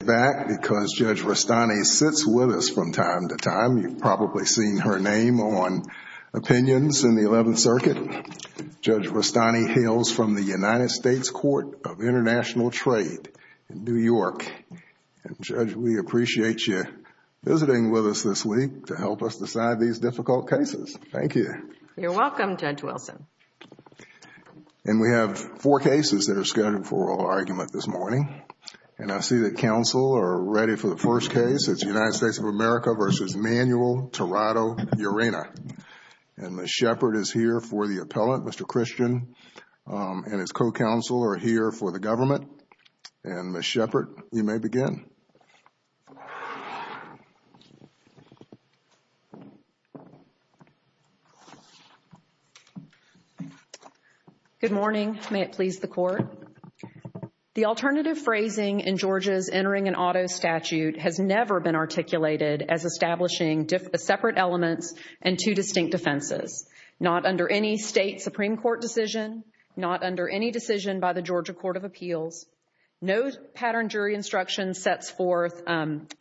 back because Judge Rustani sits with us from time to time. You've probably seen her name on opinions in the 11th Circuit. Judge Rustani hails from the United States Court of International Trade in New York. And Judge, we appreciate you visiting with us this week to help us decide these difficult cases. Thank you. You're welcome, Judge Wilson. And we have four cases that are ready for the first case. It's the United States of America v. Manuel Tirado-Yerena. And Ms. Shepard is here for the appellant. Mr. Christian and his co-counsel are here for the government. And Ms. Shepard, you may begin. Good morning. May it please the Court. The alternative phrasing in Georgia's entering an auto statute has never been articulated as establishing separate elements and two distinct defenses, not under any state Supreme Court decision, not under any decision by the Georgia Court of Appeals, no pattern jury instruction sets forth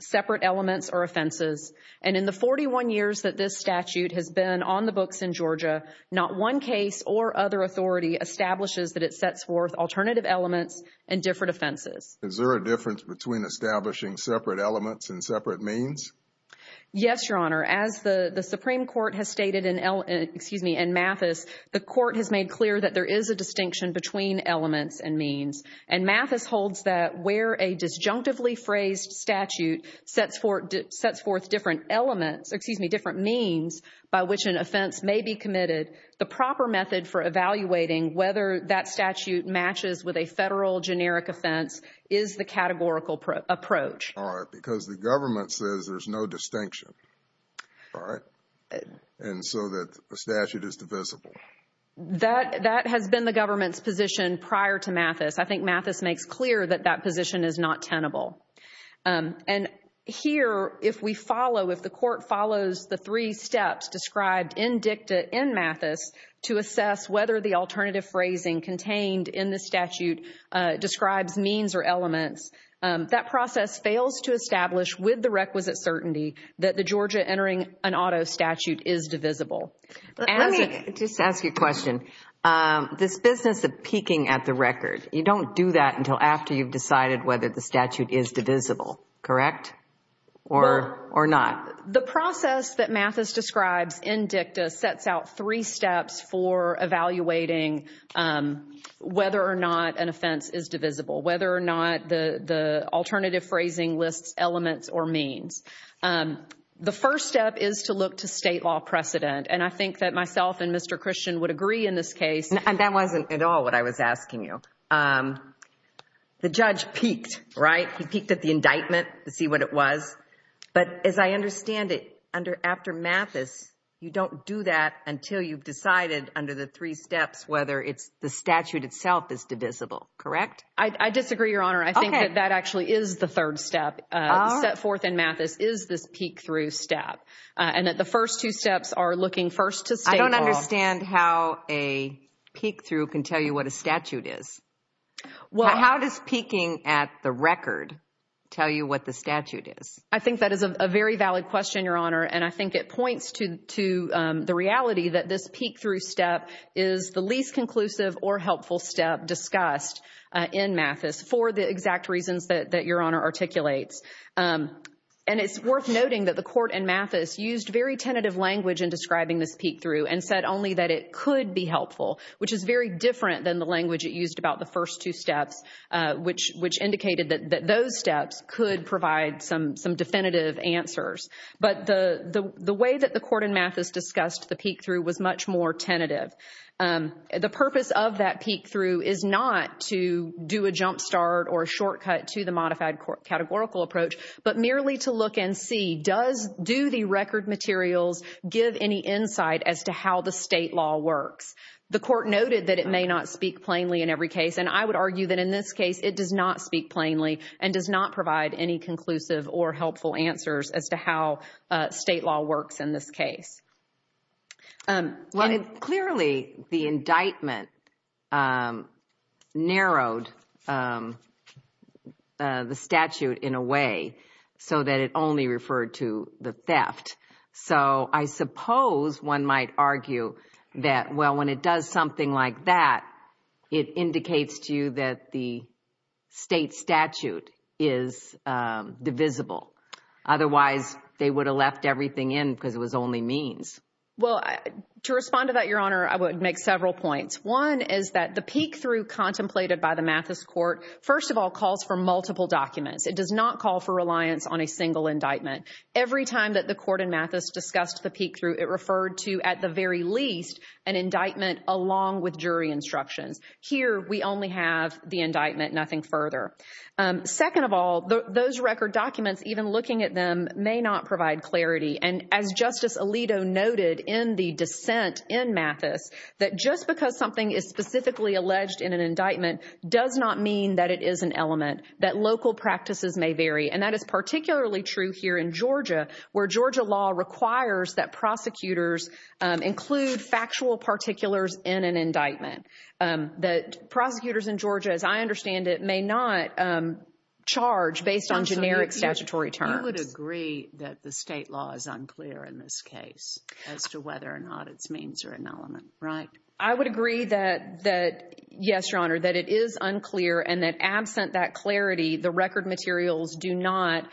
separate elements or offenses. And in the 41 years that this statute has been on the books in Georgia, not one case or other authority establishes that it sets forth alternative elements and different offenses. Is there a difference between establishing separate elements and separate means? Yes, Your Honor. As the Supreme Court has stated in Mathis, the Court has made clear that there is a distinction between elements and means. And Mathis holds that where a disjunctively phrased statute sets forth different elements, excuse me, different means by which an offense may be committed, the proper method for evaluating whether that statute matches with a federal generic offense is the categorical approach. All right. Because the government says there's no distinction. All right. And so that the statute is divisible. That has been the government's position prior to Mathis. I think Mathis makes clear that that position is not tenable. And here, if we follow, if the Court follows the three steps described in dicta in Mathis to assess whether the alternative phrasing contained in the statute describes means or that the Georgia entering an auto statute is divisible. Let me just ask you a question. This business of peeking at the record, you don't do that until after you've decided whether the statute is divisible, correct? Or not? The process that Mathis describes in dicta sets out three steps for evaluating whether or not an offense is divisible, whether or not the alternative phrasing lists elements or means. The first step is to look to state law precedent. And I think that myself and Mr. Christian would agree in this case. And that wasn't at all what I was asking you. The judge peeked, right? He peeked at the indictment to see what it was. But as I understand it, under after Mathis, you don't do that until you've decided under the three steps whether it's the statute itself is divisible, correct? I disagree, Your Honor. I think that actually is the third step set forth in Mathis is this peek through step. And that the first two steps are looking first to state law. I don't understand how a peek through can tell you what a statute is. Well, how does peeking at the record tell you what the statute is? I think that is a very valid question, Your Honor. And I think it points to the reality that this peek through step is the least conclusive or helpful step discussed in Mathis for the exact reasons that Your Honor articulates. And it's worth noting that the court in Mathis used very tentative language in describing this peek through and said only that it could be helpful, which is very different than the language it used about the first two steps, which indicated that those steps could provide some definitive answers. But the way that the court in Mathis discussed the peek through was much more tentative. The purpose of that peek through is not to do a jump start or a shortcut to the modified categorical approach, but merely to look and see, does do the record materials give any insight as to how the state law works? The court noted that it may not speak plainly in every case. And I would argue that in this case, it does not speak plainly and does not provide any conclusive or helpful answers as to how state law works in this case. Well, clearly, the indictment narrowed the statute in a way so that it only referred to the theft. So I suppose one might argue that, well, when it does something like that, it indicates to you that the state statute is divisible. Otherwise, they would have left everything in because it was only means. Well, to respond to that, Your Honor, I would make several points. One is that the peek through contemplated by the Mathis court, first of all, calls for multiple documents. It does not call for reliance on a single indictment. Every time that the court in Mathis discussed the peek through, it referred to, at the very least, an indictment along with jury instructions. Here, we only have the indictment, nothing further. Second of all, those record documents, even looking at them, may not provide clarity. And as Justice Alito noted in the dissent in Mathis, that just because something is specifically alleged in an indictment does not mean that it is an element, that local practices may vary. And that is particularly true here in Georgia, where Georgia law requires that prosecutors include factual particulars in an indictment, that prosecutors in Georgia, as I understand it, may not charge based on generic statutory terms. You would agree that the state law is unclear in this case as to whether or not its means are an element, right? I would agree that, yes, Your Honor, that it is unclear and that absent that clarity, the record materials do not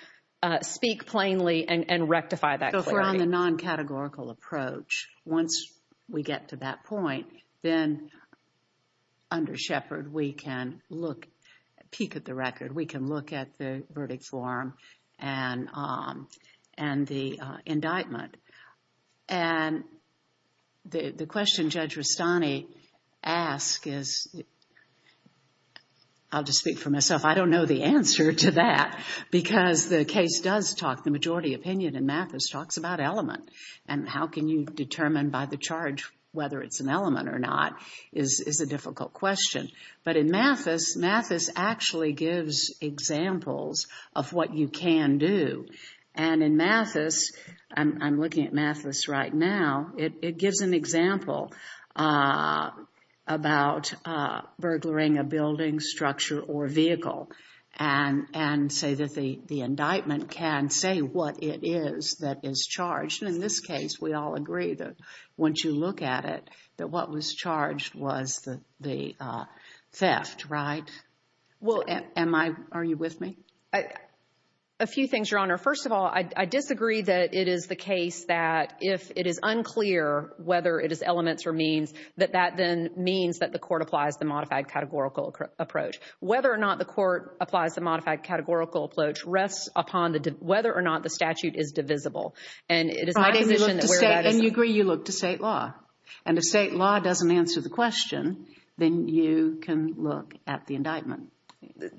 speak plainly and rectify that clarity. So if we're on the non-categorical approach, once we get to that point, then under Shepard, we can peek at the record. We can look at the verdict form and the indictment. And the question Judge Rastani asked is, I'll just speak for myself, I don't know the answer to that because the case does talk, the majority opinion in Mathis talks about element and how can you or not is a difficult question. But in Mathis, Mathis actually gives examples of what you can do. And in Mathis, I'm looking at Mathis right now, it gives an example about burglaring a building, structure, or vehicle and say that the indictment can say what it is that is charged. In this case, we all agree that once you look at it, that what was charged was the theft, right? Well, am I, are you with me? A few things, Your Honor. First of all, I disagree that it is the case that if it is unclear whether it is elements or means, that that then means that the court applies the modified categorical approach. Whether or not the court applies the modified categorical approach rests upon the, whether or not the statute is divisible. And it is my position that where that is. And you agree you look to state law. And if state law doesn't answer the question, then you can look at the indictment.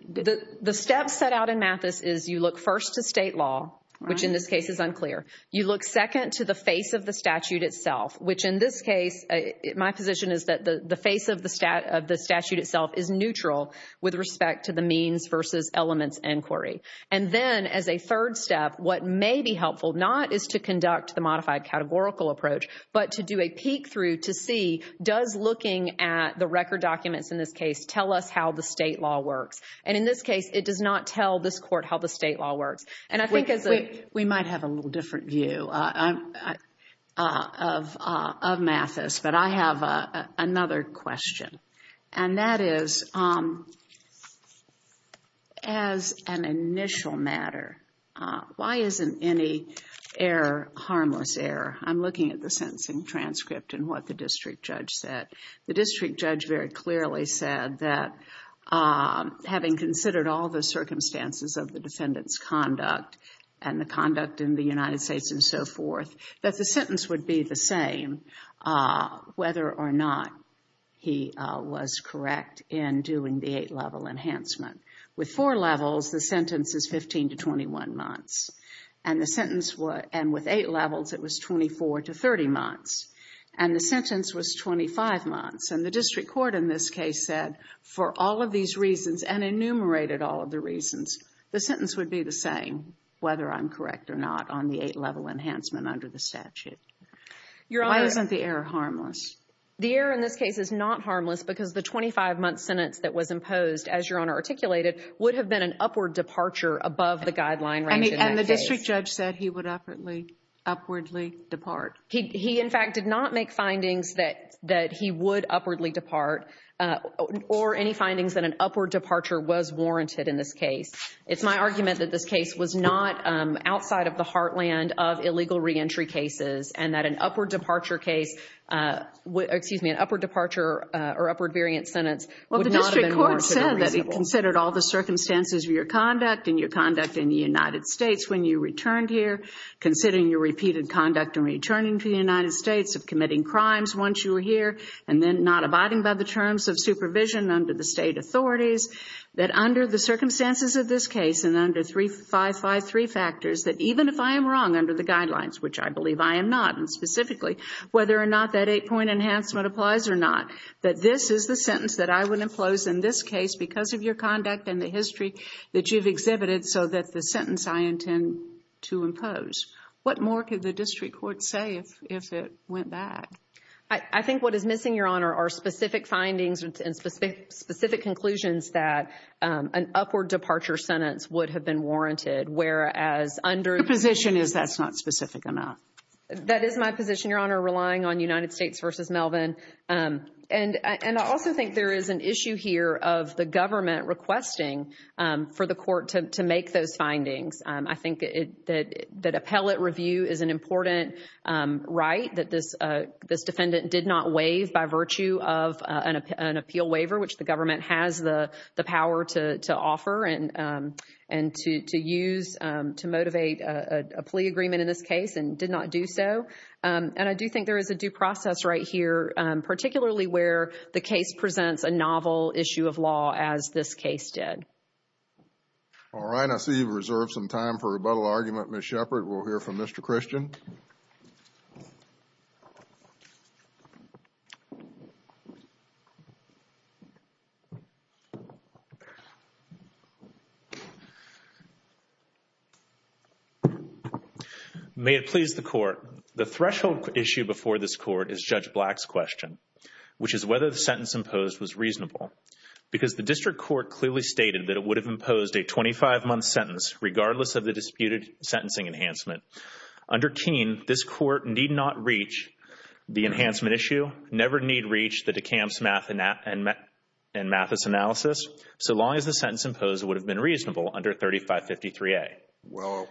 The step set out in Mathis is you look first to state law, which in this case is unclear. You look second to the face of the statute itself, which in this case, my position is that the face of the statute itself is neutral with respect to the means versus elements inquiry. And then as a third step, what may be helpful, not is to conduct the modified categorical approach, but to do a peek through to see does looking at the record documents in this case, tell us how the state law works. And in this case, it does not tell this court how the state law works. And I think as a... We might have a little different view of Mathis, but I have another question. And that is, as an initial matter, why isn't any error harmless error? I'm looking at the sentencing transcript and what the district judge said. The district judge very clearly said that having considered all the circumstances of the defendant's conduct and the conduct in the United States and so forth, that the sentence would be the same whether or not he was correct in doing the eight-level enhancement. With four levels, the sentence is 15 to 21 months. And the sentence was... And with eight levels, it was 24 to 30 months. And the sentence was 25 months. And the district court in this case said for all of these reasons and enumerated all of the reasons, the sentence would be the same whether I'm correct or not on the eight-level enhancement under the statute. Why isn't the error harmless? The error in this case is not harmless because the 25-month sentence that was imposed, as Your Honor articulated, would have been an upward departure above the guideline. And the district judge said he would upwardly depart. He, in fact, did not make findings that he would upwardly depart or any findings that an upward departure was warranted in this case. It's my argument that this case was not outside of the heartland of illegal reentry cases and that an upward departure case... Excuse me, an upward departure or upward variant sentence... Well, the district court said that it considered all the circumstances of your conduct and your conduct in the United States when you returned here, considering your repeated conduct in returning to the United States of committing crimes once you were here, and then not abiding by the terms of supervision under the state authorities, that under the circumstances of this case and under 3553 factors, that even if I am wrong under the guidelines, which I believe I am not, and specifically whether or not that eight-point enhancement applies or not, that this is the sentence that I would impose in this case because of your conduct and the history that you've exhibited so that the sentence I intend to impose. What more could the district court say if it went back? I think what is missing, Your Honor, are specific findings and specific conclusions that an upward departure sentence would have been warranted, whereas under... Your position is that's not specific enough. That is my position, relying on United States v. Melvin. And I also think there is an issue here of the government requesting for the court to make those findings. I think that appellate review is an important right that this defendant did not waive by virtue of an appeal waiver, which the government has the power to offer and to use to motivate a plea agreement in this case and did not do so. And I do think there is a due process right here, particularly where the case presents a novel issue of law as this case did. All right. I see you've reserved some time for rebuttal argument, Ms. before this court is Judge Black's question, which is whether the sentence imposed was reasonable because the district court clearly stated that it would have imposed a 25-month sentence, regardless of the disputed sentencing enhancement. Under Keene, this court need not reach the enhancement issue, never need reach the DeKalb's and Mathis analysis, so long as the sentence imposed would have been reasonable under 3553A. Well,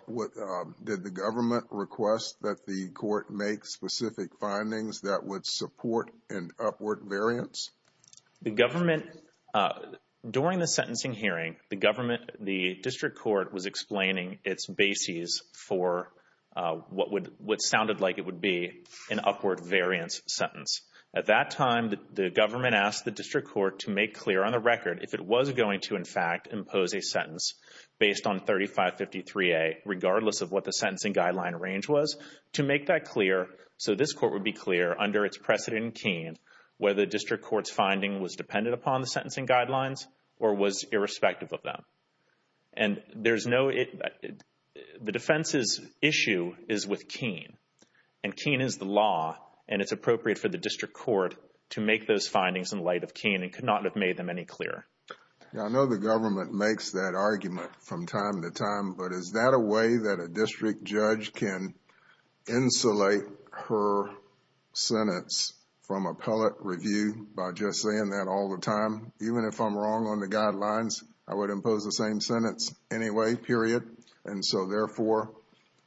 did the government request that the court make specific findings that would support an upward variance? The government, during the sentencing hearing, the government, the district court was explaining its bases for what would, what sounded like it would be an upward variance sentence. At that time, the government asked the district court to make clear on the record if it was going to, in fact, impose a sentence based on 3553A, regardless of what the sentencing guideline range was, to make that clear, so this court would be clear under its precedent in Keene, whether the district court's finding was dependent upon the sentencing guidelines or was irrespective of them. And there's no, the defense's issue is with Keene, and Keene is the law, and it's appropriate for the district court to make those findings in light of Keene and could not have made them any clearer. Yeah, I know the government makes that argument from time to time, but is that a way that a district judge can insulate her sentence from appellate review by just saying that all the time? Even if I'm wrong on the guidelines, I would impose the same sentence anyway, period, and so therefore,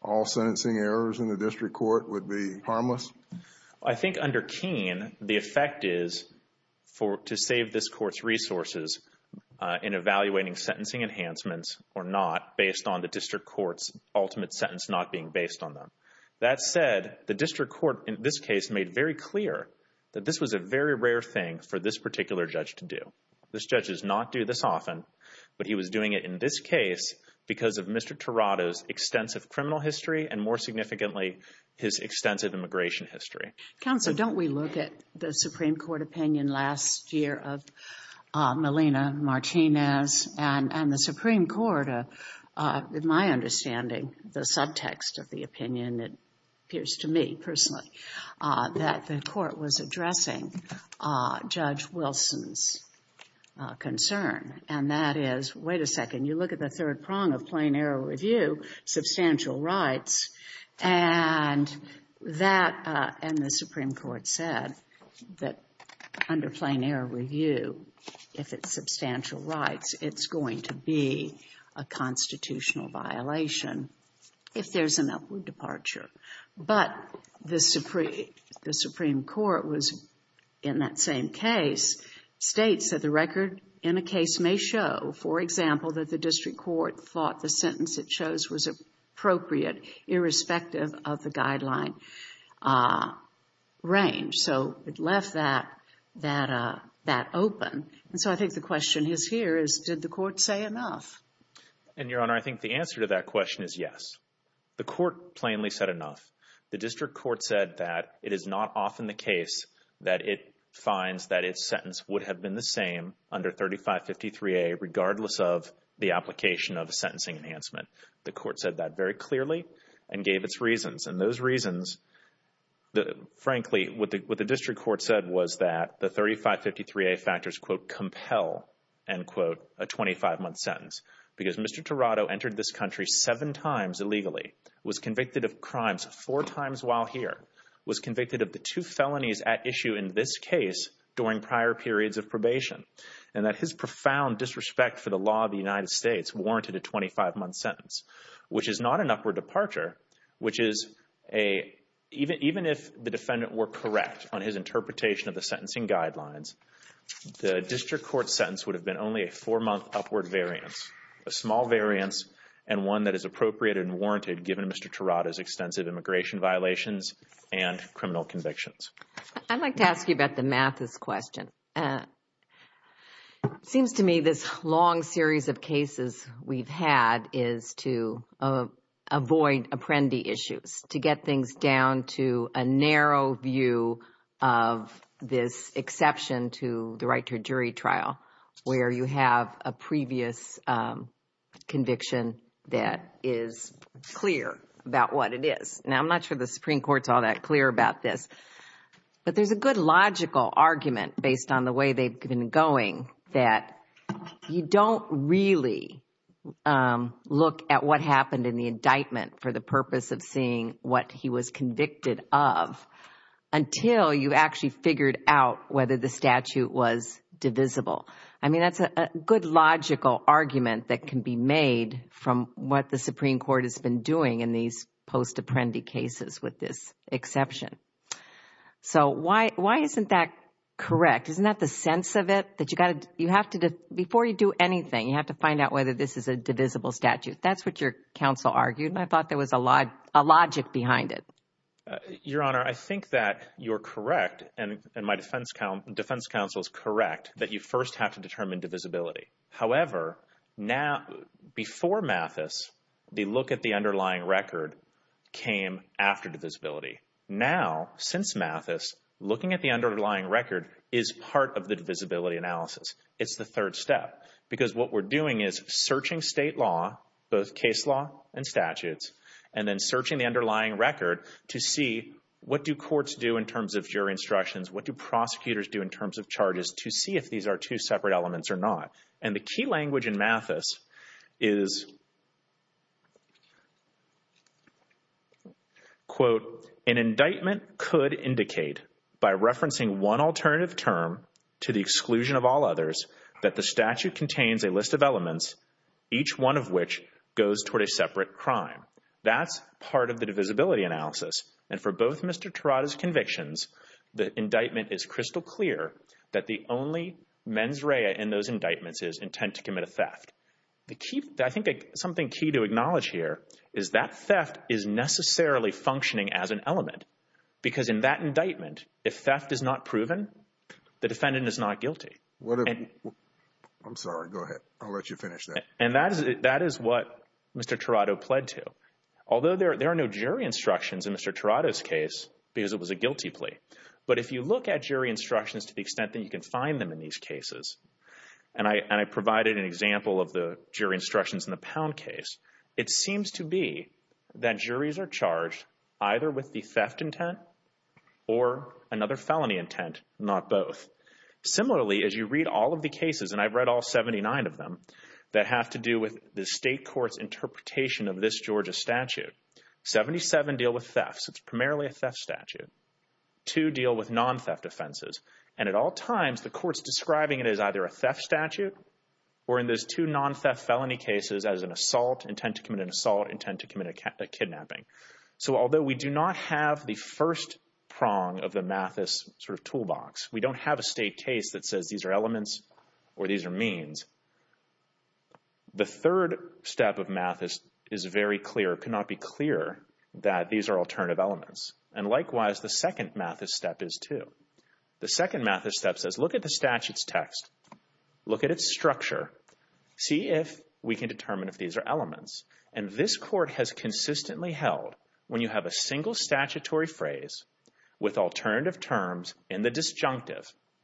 all sentencing errors in the district court would be in evaluating sentencing enhancements or not based on the district court's ultimate sentence not being based on them. That said, the district court in this case made very clear that this was a very rare thing for this particular judge to do. This judge does not do this often, but he was doing it in this case because of Mr. Tirado's extensive criminal history and, more significantly, his extensive immigration history. Counselor, don't we look at the Supreme Court opinion last year of Melina Martinez and the Supreme Court, in my understanding, the subtext of the opinion, it appears to me personally, that the court was addressing Judge Wilson's concern, and that is, wait a second, you look at the third prong of that under plain error review, if it's substantial rights, it's going to be a constitutional violation if there's an upward departure. But the Supreme Court was, in that same case, states that the record in a case may show, for example, that the district court thought the sentence it chose was appropriate irrespective of the guideline range. So it left that open. And so I think the question is here, did the court say enough? And, Your Honor, I think the answer to that question is yes. The court plainly said enough. The district court said that it is not often the case that it finds that its sentence would have been the same under 3553A regardless of the application of a sentencing enhancement. The reasons, frankly, what the district court said was that the 3553A factors, quote, compel, end quote, a 25-month sentence. Because Mr. Tirado entered this country seven times illegally, was convicted of crimes four times while here, was convicted of the two felonies at issue in this case during prior periods of probation, and that his profound disrespect for the law of the United States warranted a 25-month sentence, which is not an upward departure, which is a, even if the defendant were correct on his interpretation of the sentencing guidelines, the district court sentence would have been only a four-month upward variance, a small variance, and one that is appropriate and warranted given Mr. Tirado's extensive immigration violations and criminal convictions. I'd like to ask you about the Mathis question. It seems to me this long series of cases we've had is to avoid apprendi issues, to get things down to a narrow view of this exception to the right to a jury trial where you have a previous conviction that is clear about what it is. Now, I'm not sure the Supreme Court is all clear about this, but there's a good logical argument based on the way they've been going that you don't really look at what happened in the indictment for the purpose of seeing what he was convicted of until you actually figured out whether the statute was divisible. I mean, that's a good logical argument that can be made from what the Supreme Court has been doing in these post-apprendi cases with this exception. So, why isn't that correct? Isn't that the sense of it? Before you do anything, you have to find out whether this is a divisible statute. That's what your counsel argued, and I thought there was a logic behind it. Your Honor, I think that you're correct, and my defense counsel is correct, that you first have to determine divisibility. However, before Mathis, the look at the underlying record came after divisibility. Now, since Mathis, looking at the underlying record is part of the divisibility analysis. It's the third step, because what we're doing is searching state law, both case law and statutes, and then searching the underlying record to see what do courts do in terms of jury instructions, what do prosecutors do in terms of charges to see if these are two separate elements or not. And the key language in Mathis is, quote, an indictment could indicate by referencing one alternative term to the exclusion of all others that the statute contains a list of elements, each one of which goes toward a separate crime. That's part of the divisibility analysis, and for both Mr. Tirada's convictions, the indictment is crystal clear that the only mens rea in those indictments is intent to commit a theft. I think something key to acknowledge here is that theft is necessarily functioning as an element, because in that indictment, if theft is not proven, the defendant is not guilty. I'm sorry. Go ahead. I'll let you finish that. And that is what Mr. Tirada pled to, although there are no jury instructions in Mr. Tirada's case because it was a guilty plea, but if you look at jury instructions to the extent that you can find them in these cases, and I provided an example of the jury instructions in the Pound case, it seems to be that juries are charged either with the theft intent or another felony intent, not both. Similarly, as you read all of the cases, and I've read all 79 of them, that have to do with the state court's interpretation of this Georgia statute. 77 deal with thefts. It's primarily a theft statute. Two deal with non-theft offenses, and at all times, the court's describing it as either a theft statute or in those two non-theft felony cases as an assault, intent to commit an assault, intent to commit a kidnapping. So although we do not have the first prong of the Mathis sort of toolbox, we don't have a state case that says these are elements or these are means. The third step of Mathis is very clear, cannot be clearer, that these are alternative elements, and likewise, the second Mathis step is too. The second Mathis step says look at the statute's text, look at its structure, see if we can determine if these are elements, and this court has consistently held when you have a single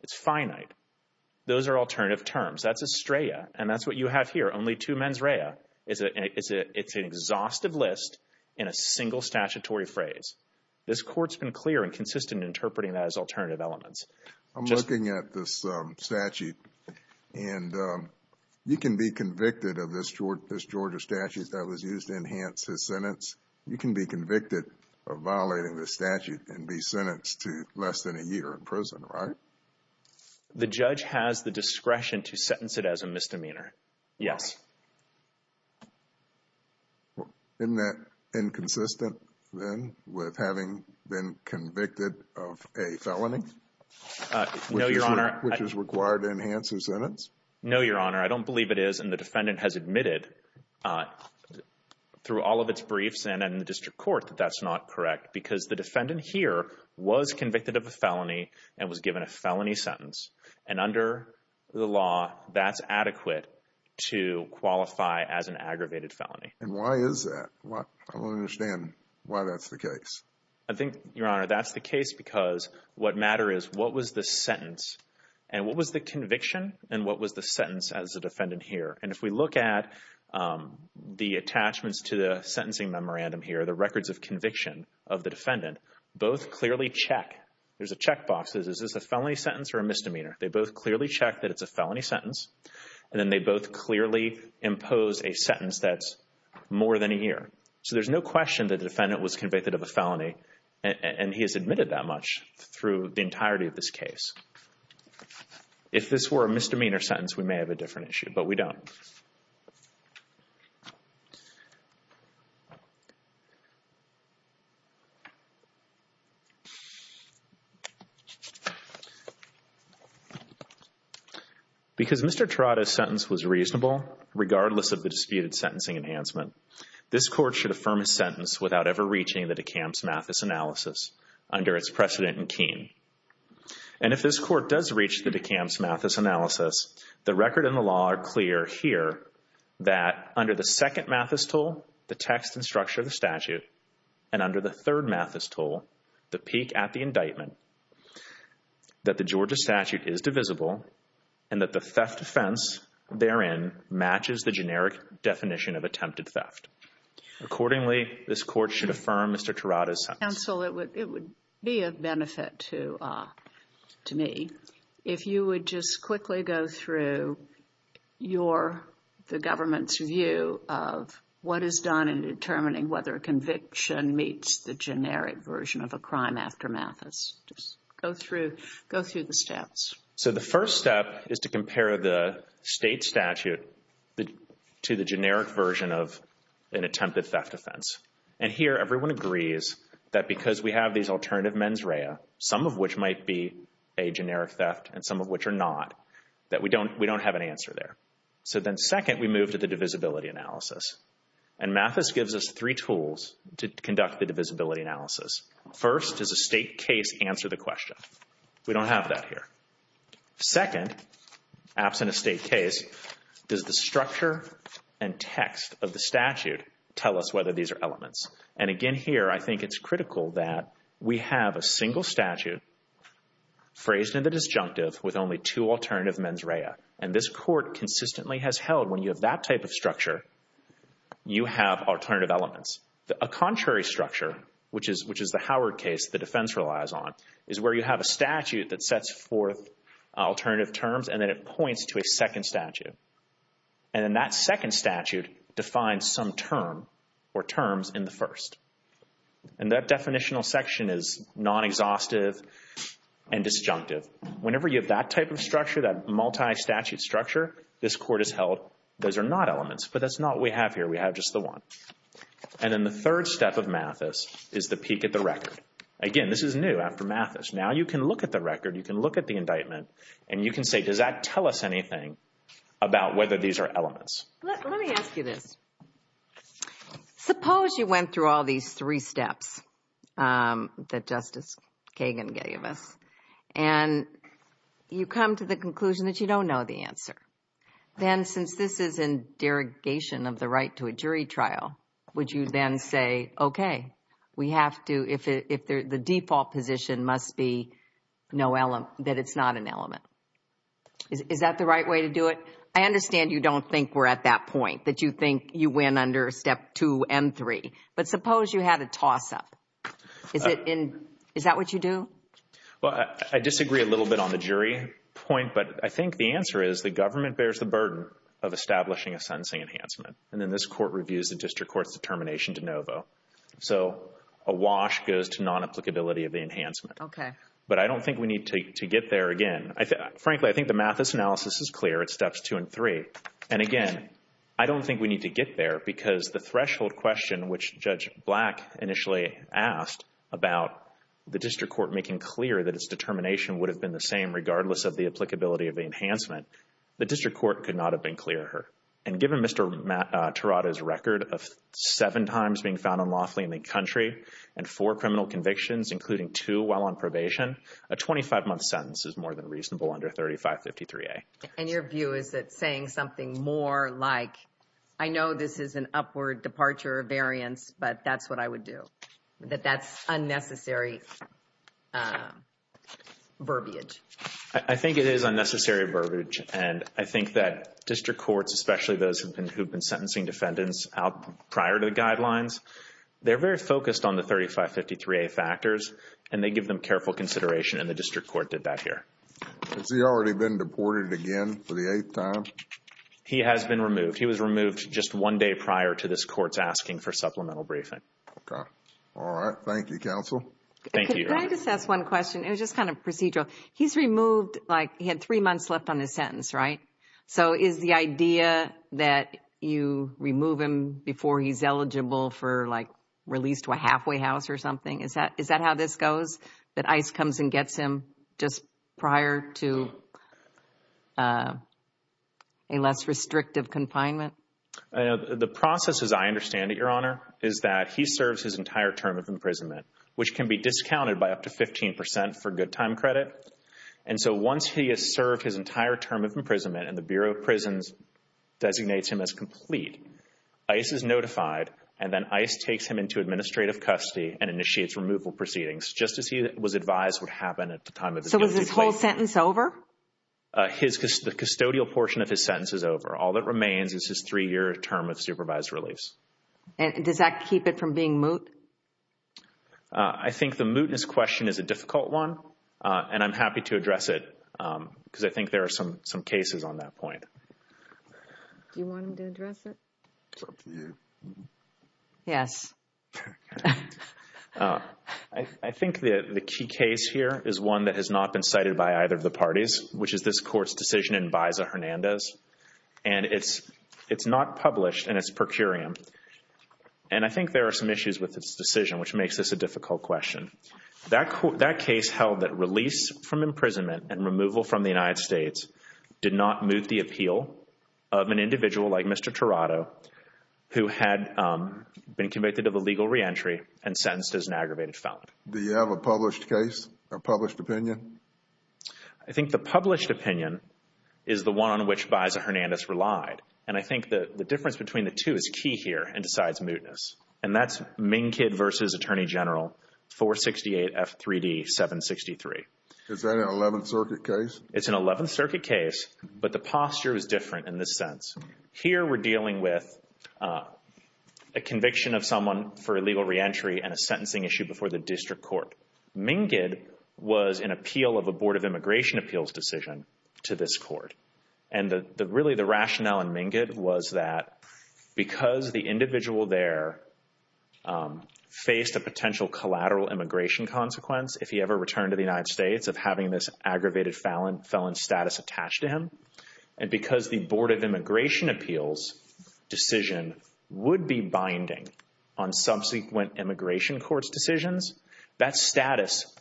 it's finite. Those are alternative terms. That's a strata, and that's what you have here. Only two mens rea. It's an exhaustive list in a single statutory phrase. This court's been clear and consistent in interpreting that as alternative elements. I'm looking at this statute, and you can be convicted of this Georgia statute that was used to enhance his sentence. You can be convicted of violating this statute and be sentenced to less than a year in prison, right? The judge has the discretion to sentence it as a misdemeanor. Yes. Isn't that inconsistent then with having been convicted of a felony? No, Your Honor. Which is required to enhance his sentence? No, Your Honor. I don't believe it is, and the defendant has admitted through all of its briefs and in the district court that that's not correct because the defendant here was convicted of a felony and was given a felony sentence, and under the law, that's adequate to qualify as an aggravated felony. And why is that? I don't understand why that's the case. I think, Your Honor, that's the case because what matters is what was the sentence, and what was the conviction, and what was the sentence as a defendant here? And if we look at the attachments to the sentencing memorandum here, the records of conviction of the defendant, both clearly check. There's a checkbox. Is this a felony sentence or a misdemeanor? They both clearly check that it's a felony sentence, and then they both clearly impose a sentence that's more than a year. So there's no question that the defendant was convicted of a felony, and he has admitted that much through the entirety of this case. If this were a misdemeanor sentence, we may have a different issue, but we don't. Because Mr. Trotta's sentence was reasonable, regardless of the disputed sentencing enhancement, this Court should affirm his sentence without ever reaching the de Kamps-Mathis analysis under its precedent in Keene. And if this Court does reach the de Kamps-Mathis analysis, the record and the law are clear here that under the second Mathis tool, the text and structure of the statute, and under the third Mathis tool, the peak at the indictment, that the Georgia statute is divisible, and that the theft offense therein matches the generic definition of attempted theft. Accordingly, this Court should affirm Mr. Trotta's sentence. Counsel, it would be of benefit to me if you would just quickly go through the government's view of what is done in determining whether a conviction meets the generic version of a crime after Mathis. Just go through the steps. So the first step is to compare the state statute to the generic version of an attempted theft offense. And here, everyone agrees that because we have these alternative mens rea, some of which might be a generic theft and some of which are not, that we don't have an answer there. So then Mathis gives us three tools to conduct the divisibility analysis. First, does a state case answer the question? We don't have that here. Second, absent a state case, does the structure and text of the statute tell us whether these are elements? And again here, I think it's critical that we have a single statute phrased in the disjunctive with only two alternative mens rea. And this Court consistently has held when you have that type of structure, you have alternative elements. A contrary structure, which is the Howard case the defense relies on, is where you have a statute that sets forth alternative terms and then it points to a second statute. And then that second statute defines some term or terms in the first. And that definitional section is non-exhaustive and disjunctive. Whenever you have that type of structure, that multi-statute structure, this Court has held those are not elements. But that's not what we have here. We have just the one. And then the third step of Mathis is the peek at the record. Again, this is new after Mathis. Now you can look at the record, you can look at the indictment, and you can say, does that tell us anything about whether these are elements? Let me ask you this. Suppose you went through all these three steps that Justice Kagan gave us and you come to the conclusion that you don't know the answer. Then since this is in derogation of the right to a jury trial, would you then say, okay, we have to, if the default position must be that it's not an element. Is that the right way to do it? I understand you don't think we're at that point, that you think you went under step two and three. But suppose you had a toss-up. Is that what you do? Well, I disagree a little bit on the jury point, but I think the answer is the government bears the burden of establishing a sentencing enhancement. And then this Court reviews the district court's determination de novo. So a wash goes to non-applicability of the enhancement. Okay. But I don't think we need to get there again. Frankly, I think the Mathis analysis is clear. It's steps two and three. And again, I don't think we need to get there because the threshold question, which Judge Black initially asked about the district court making clear that its determination would have been the same regardless of the applicability of the enhancement, the district court could not have been clearer. And given Mr. Terada's record of seven times being found unlawfully in the country and four criminal convictions, including two while on probation, a 25-month sentence is more than reasonable under 3553A. And your view is that saying something more like, I know this is an upward departure variance, but that's what I would do, that that's unnecessary verbiage? I think it is unnecessary verbiage. And I think that district courts, especially those who've been sentencing defendants out prior to the guidelines, they're very focused on the 3553A factors and they give them careful consideration and the district court did that here. Has he already been deported again for the eighth time? He has been removed. He was removed just one day prior to this court's asking for supplemental briefing. Okay. All right. Thank you, counsel. Thank you. Can I just ask one question? It was just kind of procedural. He's removed like he had three months left on his sentence, right? So is the idea that you remove him before he's eligible for like released to a halfway house or something? Is that how this goes? That ICE comes and gets him just prior to a less restrictive confinement? The process, as I understand it, Your Honor, is that he serves his entire term of imprisonment, which can be discounted by up to 15% for good time credit. And so once he has served his entire term of imprisonment and the Bureau of Prisons designates him as complete, ICE is notified, and then ICE takes him into administrative custody and initiates removal proceedings, just as he was advised would happen at the time. So was this whole sentence over? The custodial portion of his sentence is over. All that remains is his three-year term of supervised release. And does that keep it from being moot? I think the mootness question is a difficult one, and I'm happy to address it because I think there are some cases on that point. Do you want him to address it? It's up to you. Yes. I think the key case here is one that has not been cited by either of the parties, which is this court's decision in Baeza-Hernandez. And it's not published in its per curiam. And I think there are some issues with this decision, which makes this a difficult question. That case held that release from imprisonment and removal from the United States did not moot the appeal of an individual like Mr. Tirado, who had been convicted of illegal reentry and sentenced as an aggravated felon. Do you have a published case, a published opinion? I think the published opinion is the one on which Baeza-Hernandez relied. And I think the difference between the two is key here and decides mootness. And that's MnCID versus Attorney General 468 F3D 763. Is that an 11th Circuit case? It's an 11th Circuit case, but the posture is different in this sense. Here we're dealing with a conviction of someone for illegal reentry and a sentencing issue before the district court. MnCID was an appeal of a Board of Immigration Appeals decision to this court. And really the rationale in MnCID was that because the individual there faced a potential collateral immigration consequence if he ever returned to the felon status attached to him, and because the Board of Immigration Appeals decision would be binding on subsequent immigration courts decisions, that status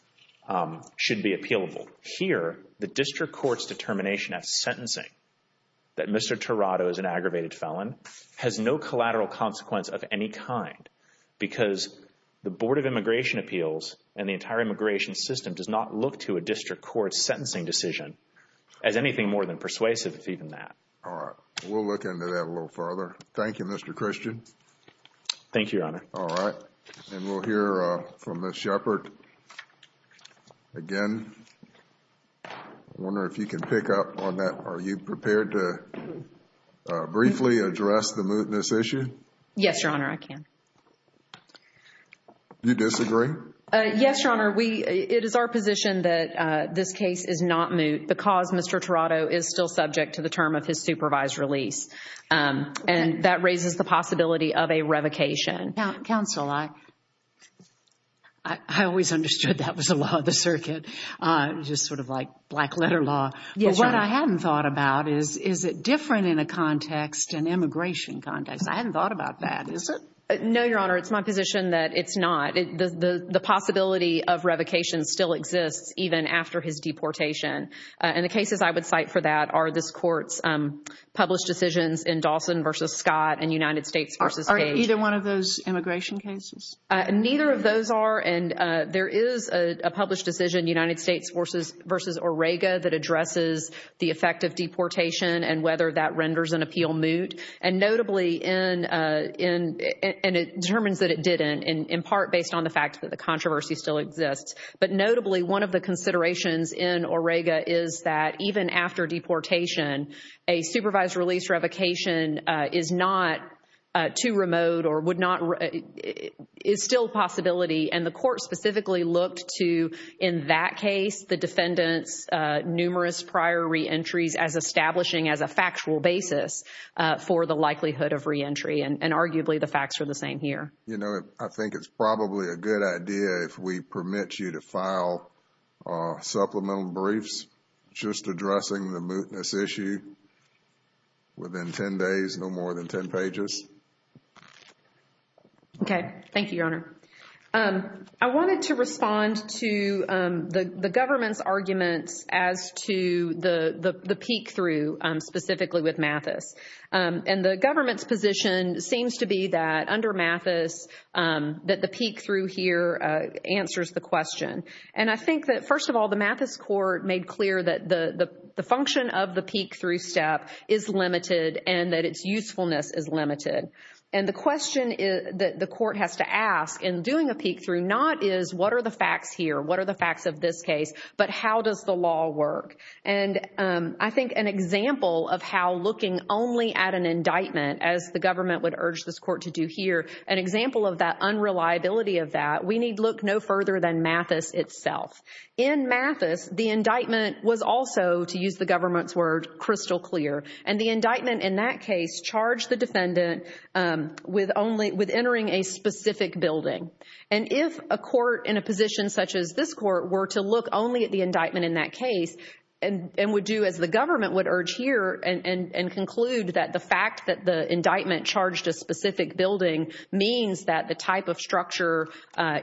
should be appealable. Here, the district court's determination at sentencing that Mr. Tirado is an aggravated felon has no collateral consequence of any kind because the Board of Immigration Appeals and the entire immigration system does not look to a district court's sentencing decision as anything more than persuasive if even that. All right. We'll look into that a little further. Thank you, Mr. Christian. Thank you, Your Honor. All right. And we'll hear from Ms. Shepard again. I wonder if you can pick up on that. Are you prepared to briefly address the mootness issue? Yes, Your Honor, I can. Do you disagree? Yes, Your Honor. It is our position that this case is not moot because Mr. Tirado is still subject to the term of his supervised release. And that raises the possibility of a revocation. Counsel, I always understood that was a law of the circuit, just sort of like black letter law. Yes, Your Honor. But what I hadn't thought about is, is it different in a context, an immigration context? I hadn't thought about that. Is it? No, Your Honor. It's my position that it's not. The possibility of revocation still exists even after his deportation. And the cases I would cite for that are this court's published decisions in Dawson v. Scott and United States v. Cage. Are either one of those immigration cases? Neither of those are. And there is a published decision, United States v. Orrega, that addresses the effect of deportation and whether that renders an appeal moot. And notably, and it determines that it didn't, in part based on the fact that the controversy still exists. But notably, one of the considerations in Orrega is that even after deportation, a supervised release revocation is not too remote or would not, is still a possibility. And the court specifically looked to, in that case, the defendant's numerous prior reentries as establishing as a factual basis for the likelihood of reentry. And arguably, the facts are the same here. You know, I think it's probably a good idea if we permit you to file supplemental briefs just addressing the mootness issue within 10 days, no more than 10 pages. Okay. Thank you, Your Honor. I wanted to respond to the government's arguments as to the peek-through specifically with Mathis. And the government's position seems to be that under Mathis, that the peek-through here answers the question. And I think that, first of all, the Mathis court made clear that the function of the peek-through step is limited and that its usefulness is limited. And the question that the court has to ask in doing a peek-through, not is what are the facts here? What are the facts of this case? But how does the law work? And I think an example of how looking only at an indictment as the government would urge this court to do here, an example of that unreliability of that, we need look no further than Mathis itself. In Mathis, the indictment was also, to use the government's word, crystal clear. And the indictment in that case charged the defendant with entering a specific building. And if a court in a position such as this court were to look only at the indictment in that case, and would do as the government would urge here, and conclude that the fact that the indictment charged a specific building means that the type of structure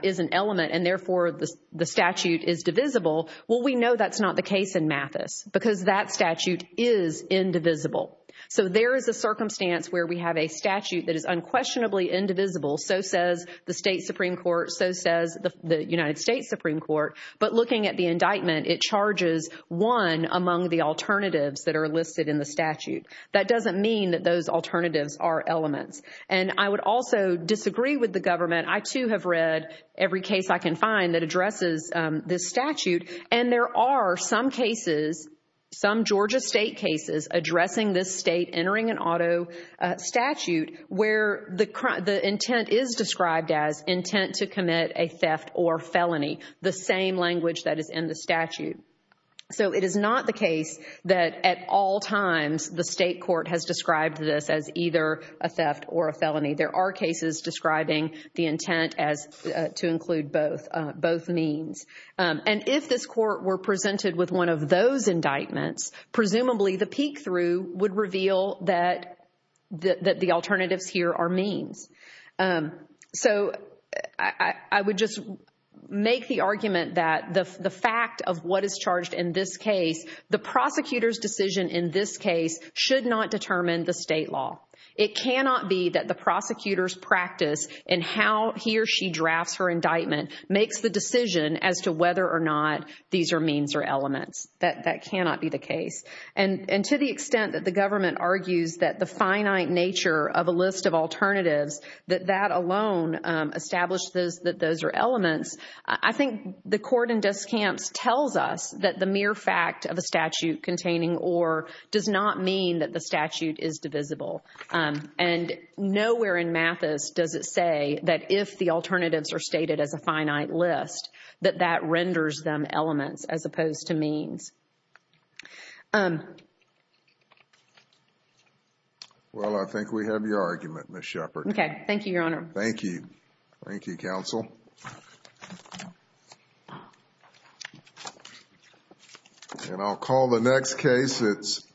is an element and therefore the statute is divisible, well, we know that's not the case in Mathis because that statute is indivisible. So there is a circumstance where we have a statute that is unquestionably indivisible. So says the state Supreme Court. So says the United States Supreme Court. But looking at the indictment, it charges one among the alternatives that are listed in the statute. That doesn't mean that those alternatives are elements. And I would also disagree with the government. I too have read every case I can find that addresses this statute. And there are some cases, some Georgia state cases, addressing this state entering an auto statute where the intent is described as intent to commit a theft or felony, the same language that is in the statute. So it is not the case that at all times the state court has described this as either a theft or a felony. There are cases describing the intent as to include both means. And if this court were presented with one of those indictments, presumably the peek through would reveal that the alternatives here are means. So I would just make the argument that the fact of what is charged in this case, the prosecutor's decision in this case should not determine the state law. It cannot be that the prosecutor's practice in how he or she drafts her indictment makes the decision as to whether or not these are means or elements. That cannot be the case. And to the extent that the government argues that the finite nature of a list of alternatives, that that alone establishes that those are elements, I think the court in Descamps tells us that the mere fact of a statute containing or does not mean that the statute is divisible. And nowhere in Mathis does it say that if the alternatives are stated as a finite list, that that renders them elements as opposed to means. Well, I think we have your argument, Ms. Shepard. Okay. Thank you, Your Honor. Thank you. Thank you, counsel. And I'll call the next case. It's